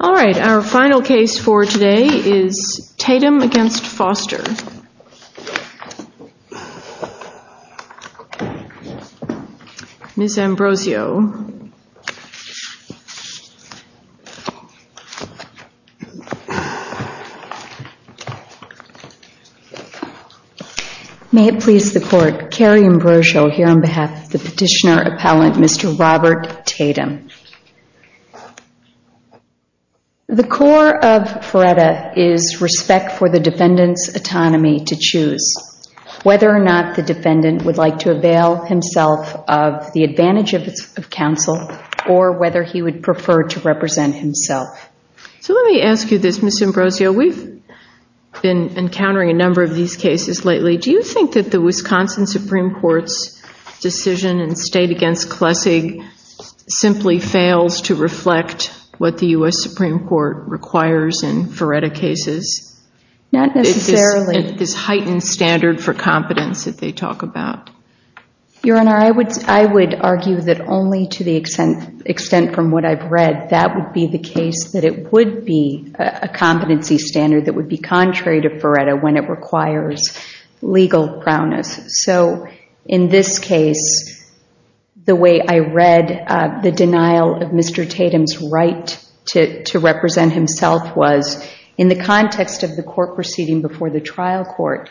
All right, our final case for today is Tatum v. Foster. Ms. Ambrosio May it please the court, Kerry Ambrosio here on behalf of the petitioner appellant, Mr. Robert Tatum. The core of FREDA is respect for the defendant's autonomy to choose whether or not the defendant would like to avail himself of the advantage of counsel or whether he would prefer to represent himself. So let me ask you this Ms. Ambrosio, we've been encountering a number of these cases lately. Do you think that the Wisconsin Supreme Court's decision in State v. Klessig simply fails to reflect what the U.S. Supreme Court requires in FREDA cases? Not necessarily. This heightened standard for competence that they talk about. Your Honor, I would argue that only to the extent from what I've read that would be the case that it would be a competency standard that would be contrary to FREDA when it requires legal proudness. So in this case, the way I read the denial of Mr. Tatum's right to represent himself was, in the context of the court proceeding before the trial court,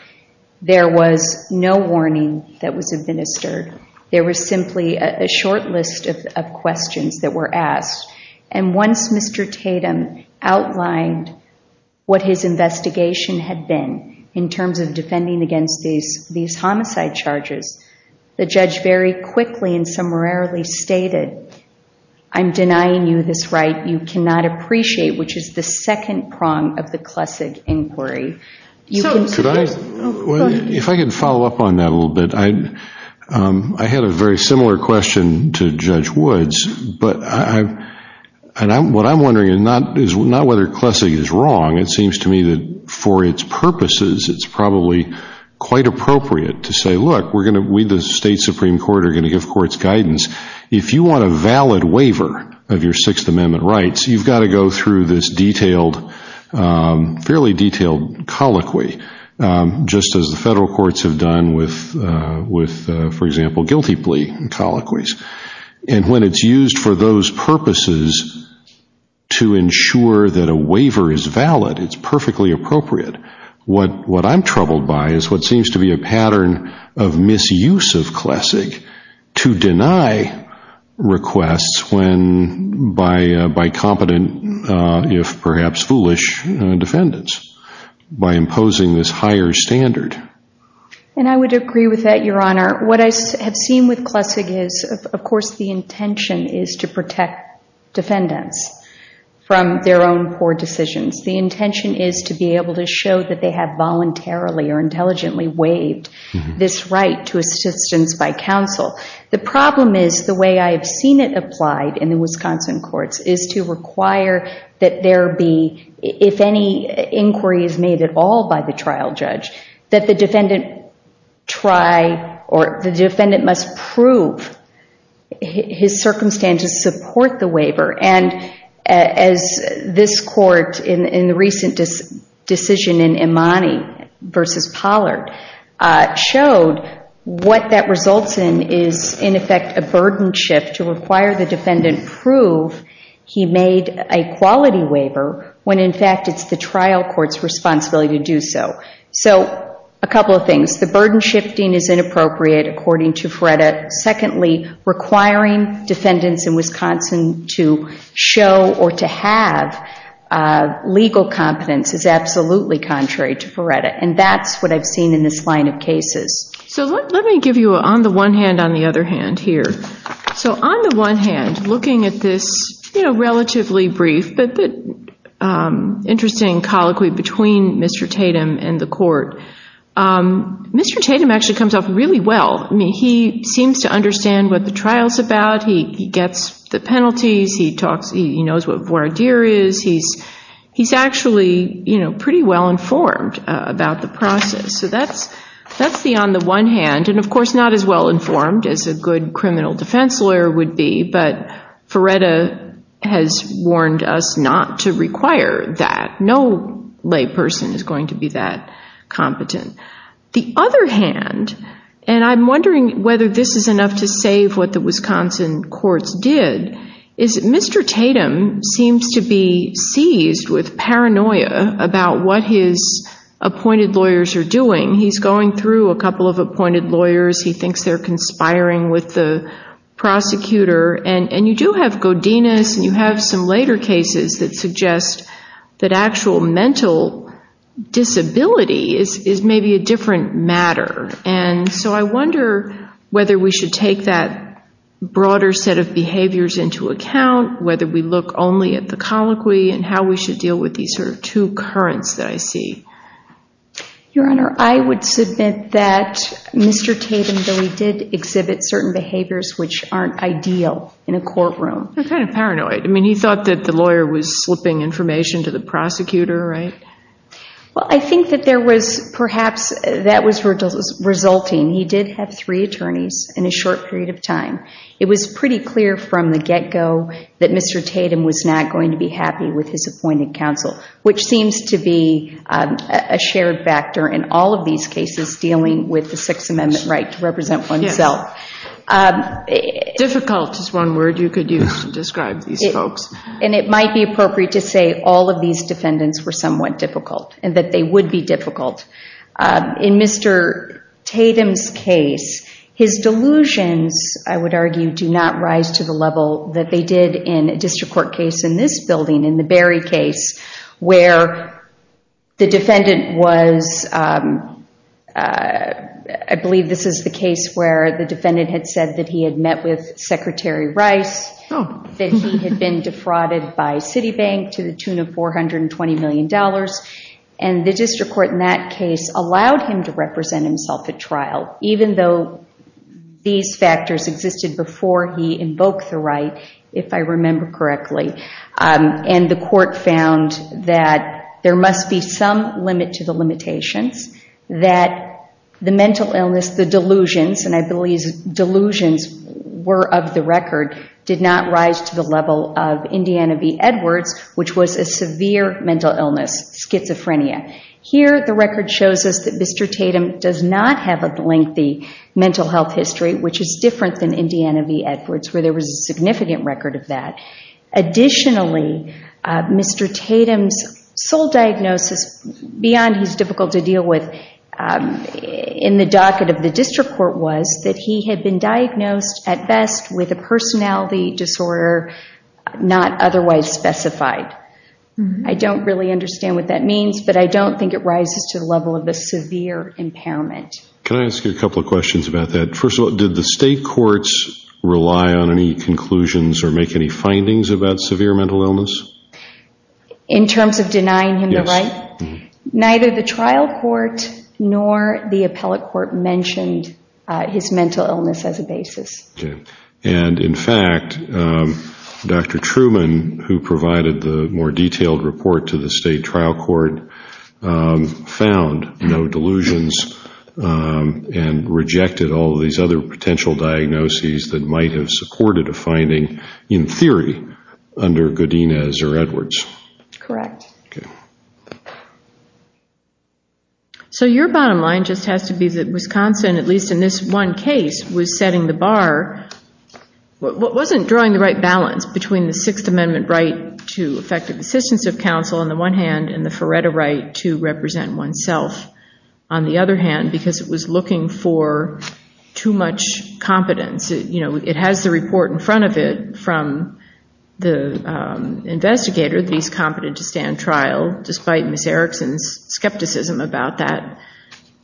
there was no warning that was administered. There was simply a short list of questions that were asked and once Mr. Tatum outlined what his investigation had been in terms of defending against these homicide charges, the judge very quickly and summarily stated, I'm denying you this right you cannot appreciate which is the second prong of the Klessig inquiry. If I can follow up on that a little bit, I had a very similar question to Judge Woods but what I'm wondering is not whether Klessig is wrong, it seems to me that for its purposes it's probably quite appropriate to say, look, we the state Supreme Court are going to give courts guidance. If you want a valid waiver of your Sixth Amendment rights, you've got to go through this fairly detailed colloquy just as the federal courts have done with, for example, guilty plea colloquies. And when it's used for those purposes to ensure that a waiver is valid, it's perfectly appropriate. What I'm troubled by is what seems to be a pattern of misuse of Klessig to deny requests by competent, if perhaps foolish, defendants by imposing this higher standard. And I would agree with that, Your Honor. What I have seen with Klessig is, of course, the intention is to protect defendants from their own poor decisions. The intention is to be able to show that they have voluntarily or intelligently waived this right to assistance by counsel. The problem is the way I have seen it applied in the Wisconsin courts is to require that if any inquiry is made at all by the trial judge, that the defendant must prove his circumstances support the waiver. And as this court in the recent decision in Imani versus Pollard showed, what that results in is, in effect, a burden shift to require the defendant prove he made a quality waiver when, in fact, it's the trial court's responsibility to do so. So a couple of things. The burden shifting is inappropriate, according to Feretta. Secondly, requiring defendants in Wisconsin to show or to have legal competence is absolutely contrary to Feretta. And that's what I've seen in this line of cases. So let me give you on the one hand, on the other hand here. So on the one hand, looking at this relatively brief but interesting colloquy between Mr. Tatum and the court, Mr. Tatum actually comes off really well. I mean, he seems to understand what the trial's about. He gets the penalties. He talks. He knows what voir dire is. He's actually pretty well informed about the process. So that's the on the one hand. And of course, not as well informed as a good criminal defense lawyer would be. But Feretta has warned us not to require that. No lay person is going to be that competent. The other hand, and I'm wondering whether this is enough to save what the Wisconsin courts did, is that Mr. Tatum seems to be seized with paranoia about what his appointed lawyers are doing. He's going through a couple of appointed lawyers. He thinks they're conspiring with the prosecutor. And you do have Godinez. And you have some later cases that suggest that actual mental disability is maybe a different matter. And so I wonder whether we should take that broader set of behaviors into account, whether we look only at the colloquy, and how we should deal with these two currents that I see. Your Honor, I would submit that Mr. Tatum really did exhibit certain behaviors which aren't ideal in a courtroom. They're kind of paranoid. I mean, he thought that the lawyer was slipping information to the prosecutor, right? Well, I think that there was perhaps that was resulting. He did have three attorneys in a short period of time. It was pretty clear from the get-go that Mr. Tatum was not going to be happy with his all of these cases dealing with the Sixth Amendment right to represent oneself. Difficult is one word you could use to describe these folks. And it might be appropriate to say all of these defendants were somewhat difficult, and that they would be difficult. In Mr. Tatum's case, his delusions, I would argue, do not rise to the level that they in a district court case in this building, in the Berry case, where the defendant was, I believe this is the case where the defendant had said that he had met with Secretary Rice, that he had been defrauded by Citibank to the tune of $420 million. And the district court in that case allowed him to represent himself at trial, even though these factors existed before he invoked the right. If I remember correctly, and the court found that there must be some limit to the limitations, that the mental illness, the delusions, and I believe delusions were of the record, did not rise to the level of Indiana v. Edwards, which was a severe mental illness, schizophrenia. Here, the record shows us that Mr. Tatum does not have a lengthy mental health history, which is different than Indiana v. Edwards, where there was a significant record of that. Additionally, Mr. Tatum's sole diagnosis, beyond he's difficult to deal with, in the docket of the district court was that he had been diagnosed, at best, with a personality disorder not otherwise specified. I don't really understand what that means, but I don't think it rises to the level of a severe impairment. Can I ask you a couple of questions about that? First of all, did the state courts rely on any conclusions or make any findings about severe mental illness? In terms of denying him the right? Neither the trial court nor the appellate court mentioned his mental illness as a basis. And in fact, Dr. Truman, who provided the more detailed report to the state trial court, found no delusions and rejected all these other potential diagnoses that might have supported a finding, in theory, under Godinez or Edwards. Correct. So your bottom line just has to be that Wisconsin, at least in this one case, was setting the bar, wasn't drawing the right balance between the Sixth Amendment right to effective assistance of counsel, on the one hand, and the Feretta right to represent oneself, on the other hand, because it was looking for too much competence. It has the report in front of it from the investigator that he's competent to stand trial, despite Ms. Erickson's skepticism about that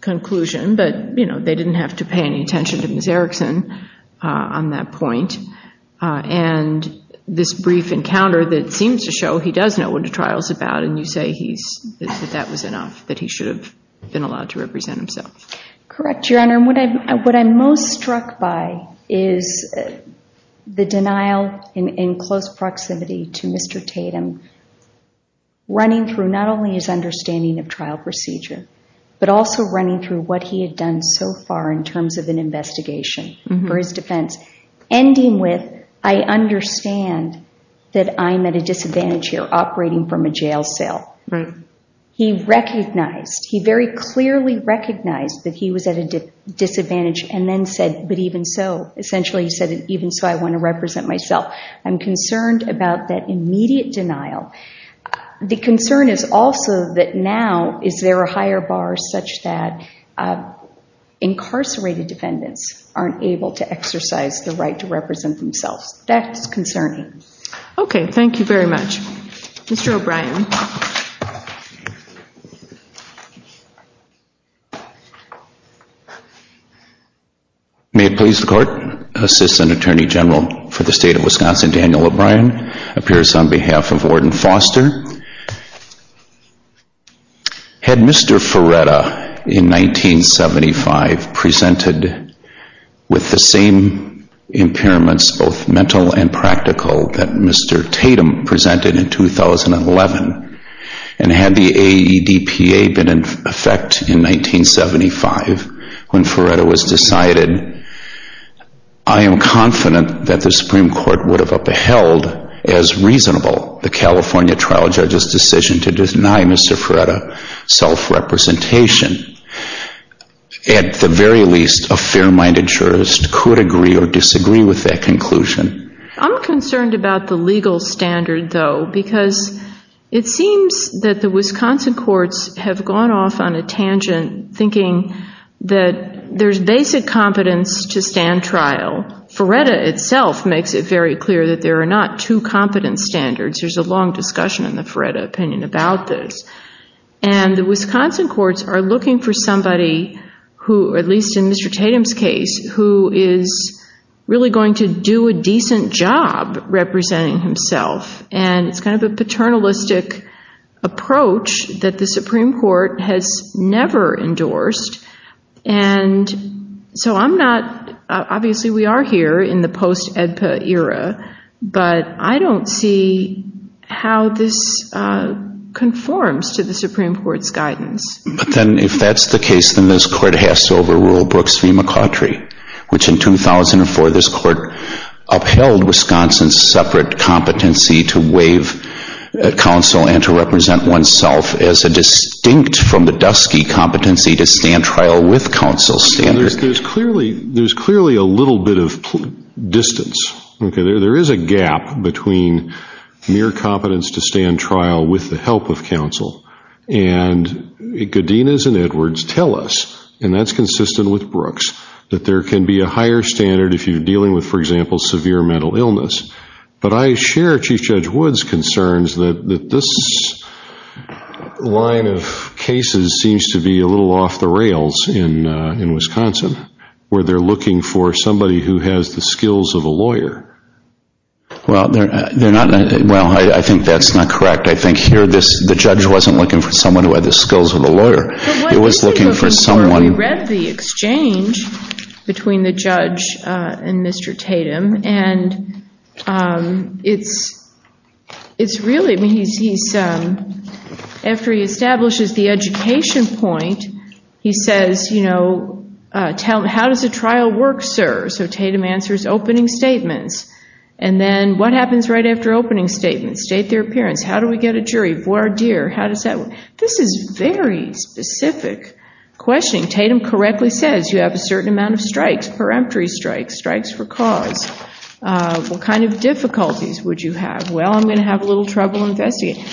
conclusion, but they didn't have to pay any attention to Ms. Erickson on that point. And this brief encounter that seems to show he does know what a trial is about, and you say that that was enough, that he should have been allowed to represent himself. Correct, Your Honor. And what I'm most struck by is the denial in close proximity to Mr. Tatum, running through not only his understanding of trial procedure, but also running through what he had done so far in terms of an investigation for his defense, ending with, I understand that I'm at a disadvantage here, operating from a jail cell. He recognized, he very clearly recognized that he was at a disadvantage, and then said, but even so, essentially he said, even so I want to represent myself. I'm concerned about that immediate denial. The concern is also that now, is there a higher bar such that incarcerated defendants aren't able to exercise the right to represent themselves. That's concerning. Okay, thank you very much. Mr. O'Brien. May it please the Court, Assistant Attorney General for the State of Wisconsin, Daniel O'Brien, appears on behalf of Warden Foster. Had Mr. Ferretta, in 1975, presented with the same impairments, both mental and practical, that Mr. Tatum presented in 2011, and had the AEDPA been in effect in 1975, when Ferretta was decided, I am confident that the Supreme Court would have upheld as reasonable the California trial judge's decision to deny Mr. Ferretta self-representation. At the very least, a fair-minded jurist could agree or disagree with that conclusion. I'm concerned about the legal standard, though, because it seems that the Wisconsin courts have gone off on a tangent, thinking that there's basic competence to stand trial. Ferretta itself makes it very clear that there are not two competence standards. There's a long discussion in the Ferretta opinion about this. And the Wisconsin courts are looking for somebody who, at least in Mr. Tatum's case, who is really going to do a decent job representing himself. And it's kind of a paternalistic approach that the Supreme Court has never endorsed. And so I'm not, obviously we are here in the post-AEDPA era, but I don't see how this conforms to the Supreme Court's guidance. But then if that's the case, then this court has to overrule Brooks v. McCautry, which in 2004, this court upheld Wisconsin's separate competency to waive counsel and to with counsel standard. There's clearly a little bit of distance. There is a gap between mere competence to stand trial with the help of counsel. And Godinez and Edwards tell us, and that's consistent with Brooks, that there can be a higher standard if you're dealing with, for example, severe mental illness. But I share Chief Judge Wood's concerns that this line of cases seems to be a little off the rails in Wisconsin, where they're looking for somebody who has the skills of a lawyer. Well, they're not, well, I think that's not correct. I think here, the judge wasn't looking for someone who had the skills of a lawyer. It was looking for someone... We read the exchange between the judge and Mr. Tatum. And after he establishes the education point, he says, how does a trial work, sir? So Tatum answers, opening statements. And then what happens right after opening statements? State their appearance. How do we get a jury? Voir dire. How does that work? Tatum correctly says you have a certain amount of strikes, peremptory strikes, strikes for cause. What kind of difficulties would you have? Well, I'm going to have a little trouble investigating.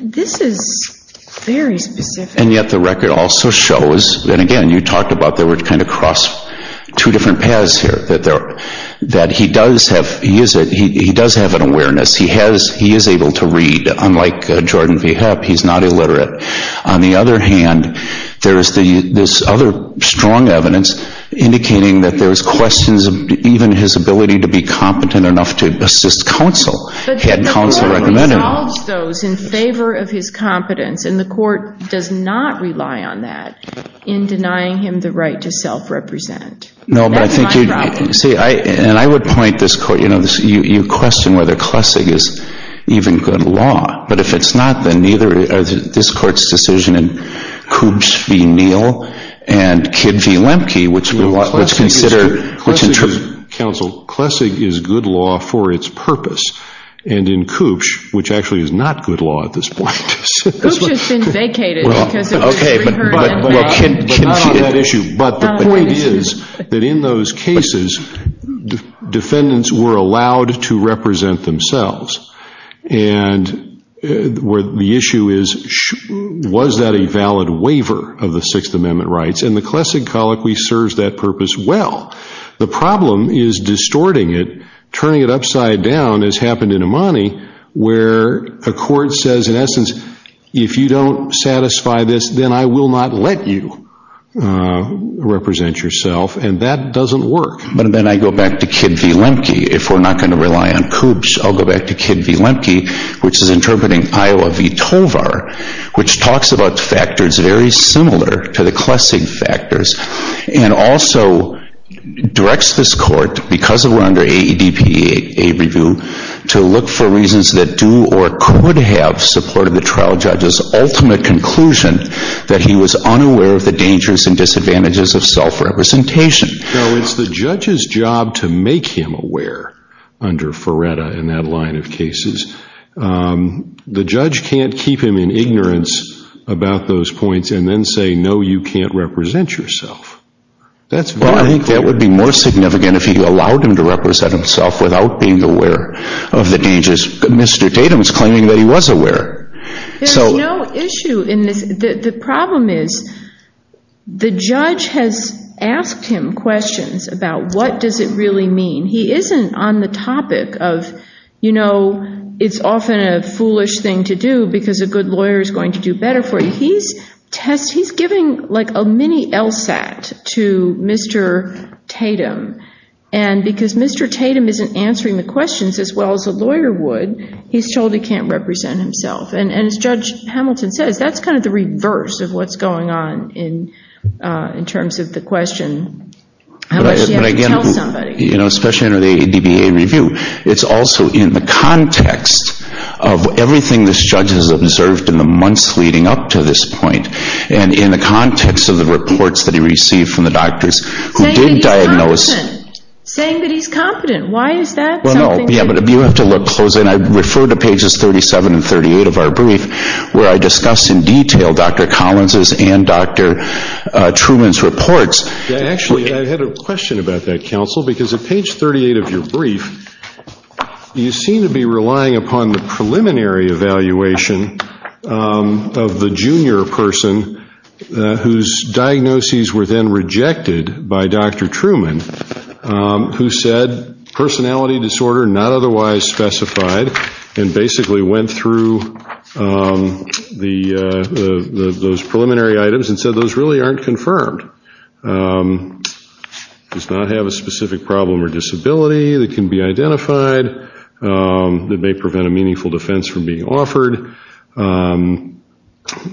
This is very specific. And yet the record also shows, and again, you talked about there were kind of cross two different paths here, that he does have an awareness. He is able to read. Unlike Jordan V. Hepp, he's not illiterate. On the other hand, there is this other strong evidence indicating that there's questions of even his ability to be competent enough to assist counsel, had counsel recommend him. But the court resolves those in favor of his competence. And the court does not rely on that in denying him the right to self-represent. No, but I think... That's my problem. See, and I would point this court, you question whether Klessig is even good law. But if it's not, then neither is this court's decision in Koops v. Neal and Kidd v. Lemke, which we consider... Counsel, Klessig is good law for its purpose. And in Koops, which actually is not good law at this point... Koops has been vacated because of... Okay, but the point is that in those cases, defendants were allowed to represent themselves. And the issue is, was that a valid waiver of the Sixth Amendment rights? And the Klessig Colloquy serves that purpose well. The problem is distorting it, turning it upside down, as happened in Imani, where a court says, in essence, if you don't satisfy this, then I will not let you represent yourself. And that doesn't work. But then I go back to Kidd v. Lemke. If we're not going to rely on Koops, I'll go back to Kidd v. Lemke, which is interpreting Iowa v. Tovar, which talks about factors very similar to the Klessig factors and also directs this court, because we're under AEDPA review, to look for reasons that do or could have supported the trial judge's ultimate conclusion that he was unaware of the dangers and disadvantages of self-representation. So it's the judge's job to make him aware under Feretta in that line of cases. The judge can't keep him in ignorance about those points and then say, no, you can't represent yourself. That's very clear. Well, I think that would be more significant if he allowed him to represent himself without being aware of the dangers. Mr. Tatum is claiming that he was aware. There's no issue in this. The problem is the judge has asked him questions about what does it really mean. He isn't on the topic of, you know, it's often a foolish thing to do because a good lawyer is going to do better for you. He's giving like a mini LSAT to Mr. Tatum. And because Mr. Tatum isn't answering the questions as well as a lawyer would, he's told he can't represent himself. And as Judge Hamilton says, that's kind of the reverse of what's going on in terms of the question, how much do you have to tell somebody? You know, especially under the ADBA review. It's also in the context of everything this judge has observed in the months leading up to this point and in the context of the reports that he received from the doctors. Saying that he's competent. Why is that? Yeah, but you have to look closely. I refer to pages 37 and 38 of our brief where I discuss in detail Dr. Collins' and Dr. Truman's reports. Actually, I had a question about that, Counsel, because at page 38 of your brief, you seem to be relying upon the preliminary evaluation of the junior person whose diagnoses were then rejected by Dr. Truman, who said personality disorder not otherwise specified, and basically went through those preliminary items and said those really aren't confirmed. Does not have a specific problem or disability that can be identified. That may prevent a meaningful defense from being offered.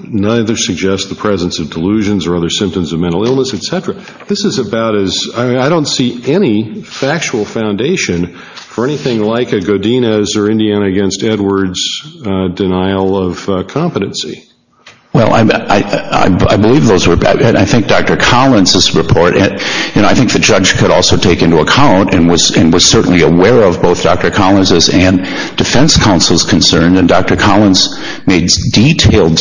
Neither suggests the presence of delusions or other symptoms of mental illness, etc. This is about as, I don't see any factual foundation for anything like a Godinez or Indiana against Edwards denial of competency. Well, I believe those were bad. I think Dr. Collins' report, and I think the judge could also take into account and was certainly aware of both Dr. Collins' and defense counsel's concern, and Dr. Collins' detailed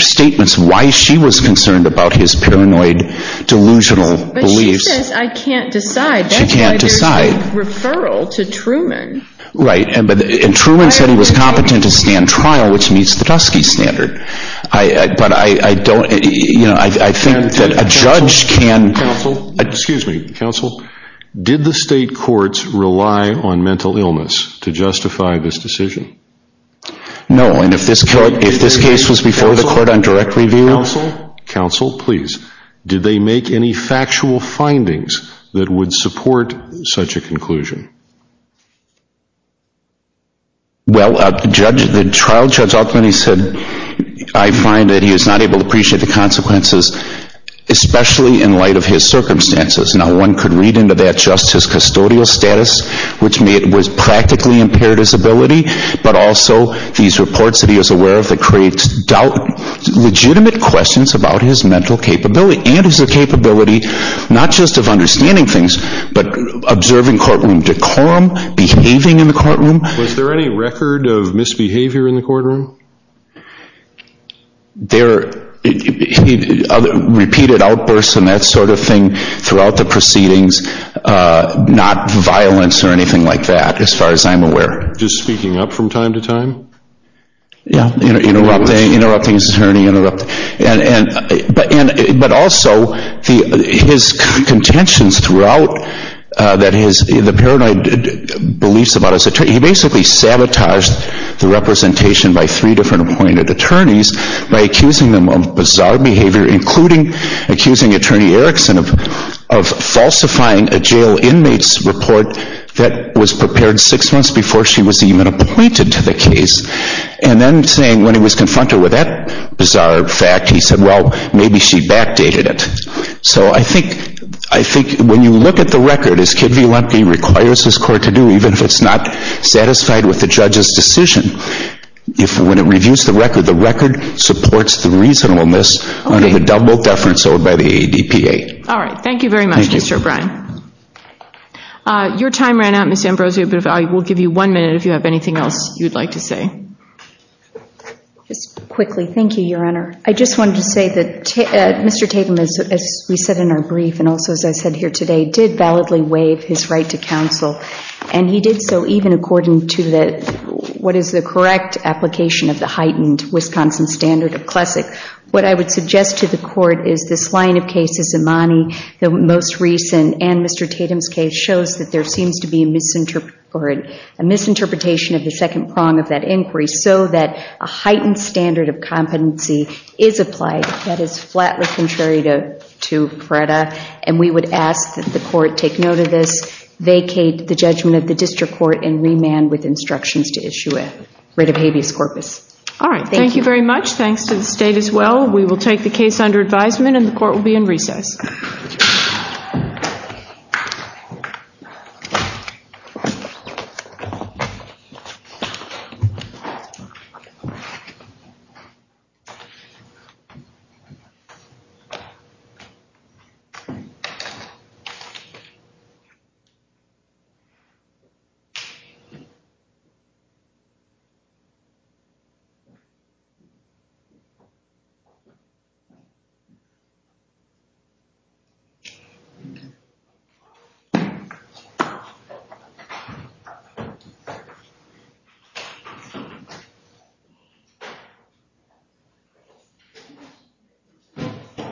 statements why she was concerned about his paranoid delusional beliefs. But she says I can't decide. She can't decide. That's why there's a referral to Truman. Right, and Truman said he was competent to stand trial, which meets the Tuskegee standard. But I don't, you know, I think that a judge can. Excuse me, Counsel, did the state courts rely on mental illness to justify this decision? No, and if this case was before the court on direct review. Counsel, Counsel, please. Did they make any factual findings that would support such a conclusion? Well, the trial judge ultimately said I find that he is not able to appreciate the consequences, especially in light of his circumstances. Now, one could read into that just his custodial status, which was practically impaired his ability, but also these reports that he was aware of that creates doubt, legitimate questions about his mental capability and his capability, not just of understanding things, but observing courtroom decorum, behaving in the courtroom. Was there any record of misbehavior in the courtroom? There, repeated outbursts and that sort of thing throughout the proceedings, uh, not violence or anything like that, as far as I'm aware. Just speaking up from time to time? Yeah, you know, interrupting, interrupting his attorney, interrupting. And, and, but, and, but also the, his contentions throughout, uh, that his, the paranoid beliefs about his attorney, he basically sabotaged the representation by three different appointed attorneys by accusing them of bizarre behavior, including accusing attorney Erickson of falsifying a jail inmate's report that was prepared six months before she was even appointed to the case. And then saying when he was confronted with that bizarre fact, he said, well, maybe she backdated it. So I think, I think when you look at the record, as Kid v. Lemke requires his court to do, even if it's not satisfied with the judge's decision, if when it reviews the record, the record supports the reasonableness of the double deference owed by the ADPA. All right. Thank you very much, Mr. O'Brien. Your time ran out, Ms. Ambrosio, but I will give you one minute if you have anything else you'd like to say. Just quickly. Thank you, Your Honor. I just wanted to say that Mr. Tatum, as we said in our brief, and also as I said here today, did validly waive his right to counsel. And he did so even according to the, what is the correct application of the heightened Wisconsin standard of classic. What I would suggest to the court is this line of cases, Imani, the most recent, and Mr. Tatum's case, shows that there seems to be a misinterpretation of the second prong of that inquiry, so that a heightened standard of competency is applied that is flatly contrary to PRETA. And we would ask that the court take note of this, vacate the judgment of the district court, and remand with instructions to issue a writ of habeas corpus. All right. Thank you. Thank you very much. Thanks to the state as well. We will take the case under advisement and the court will be in recess.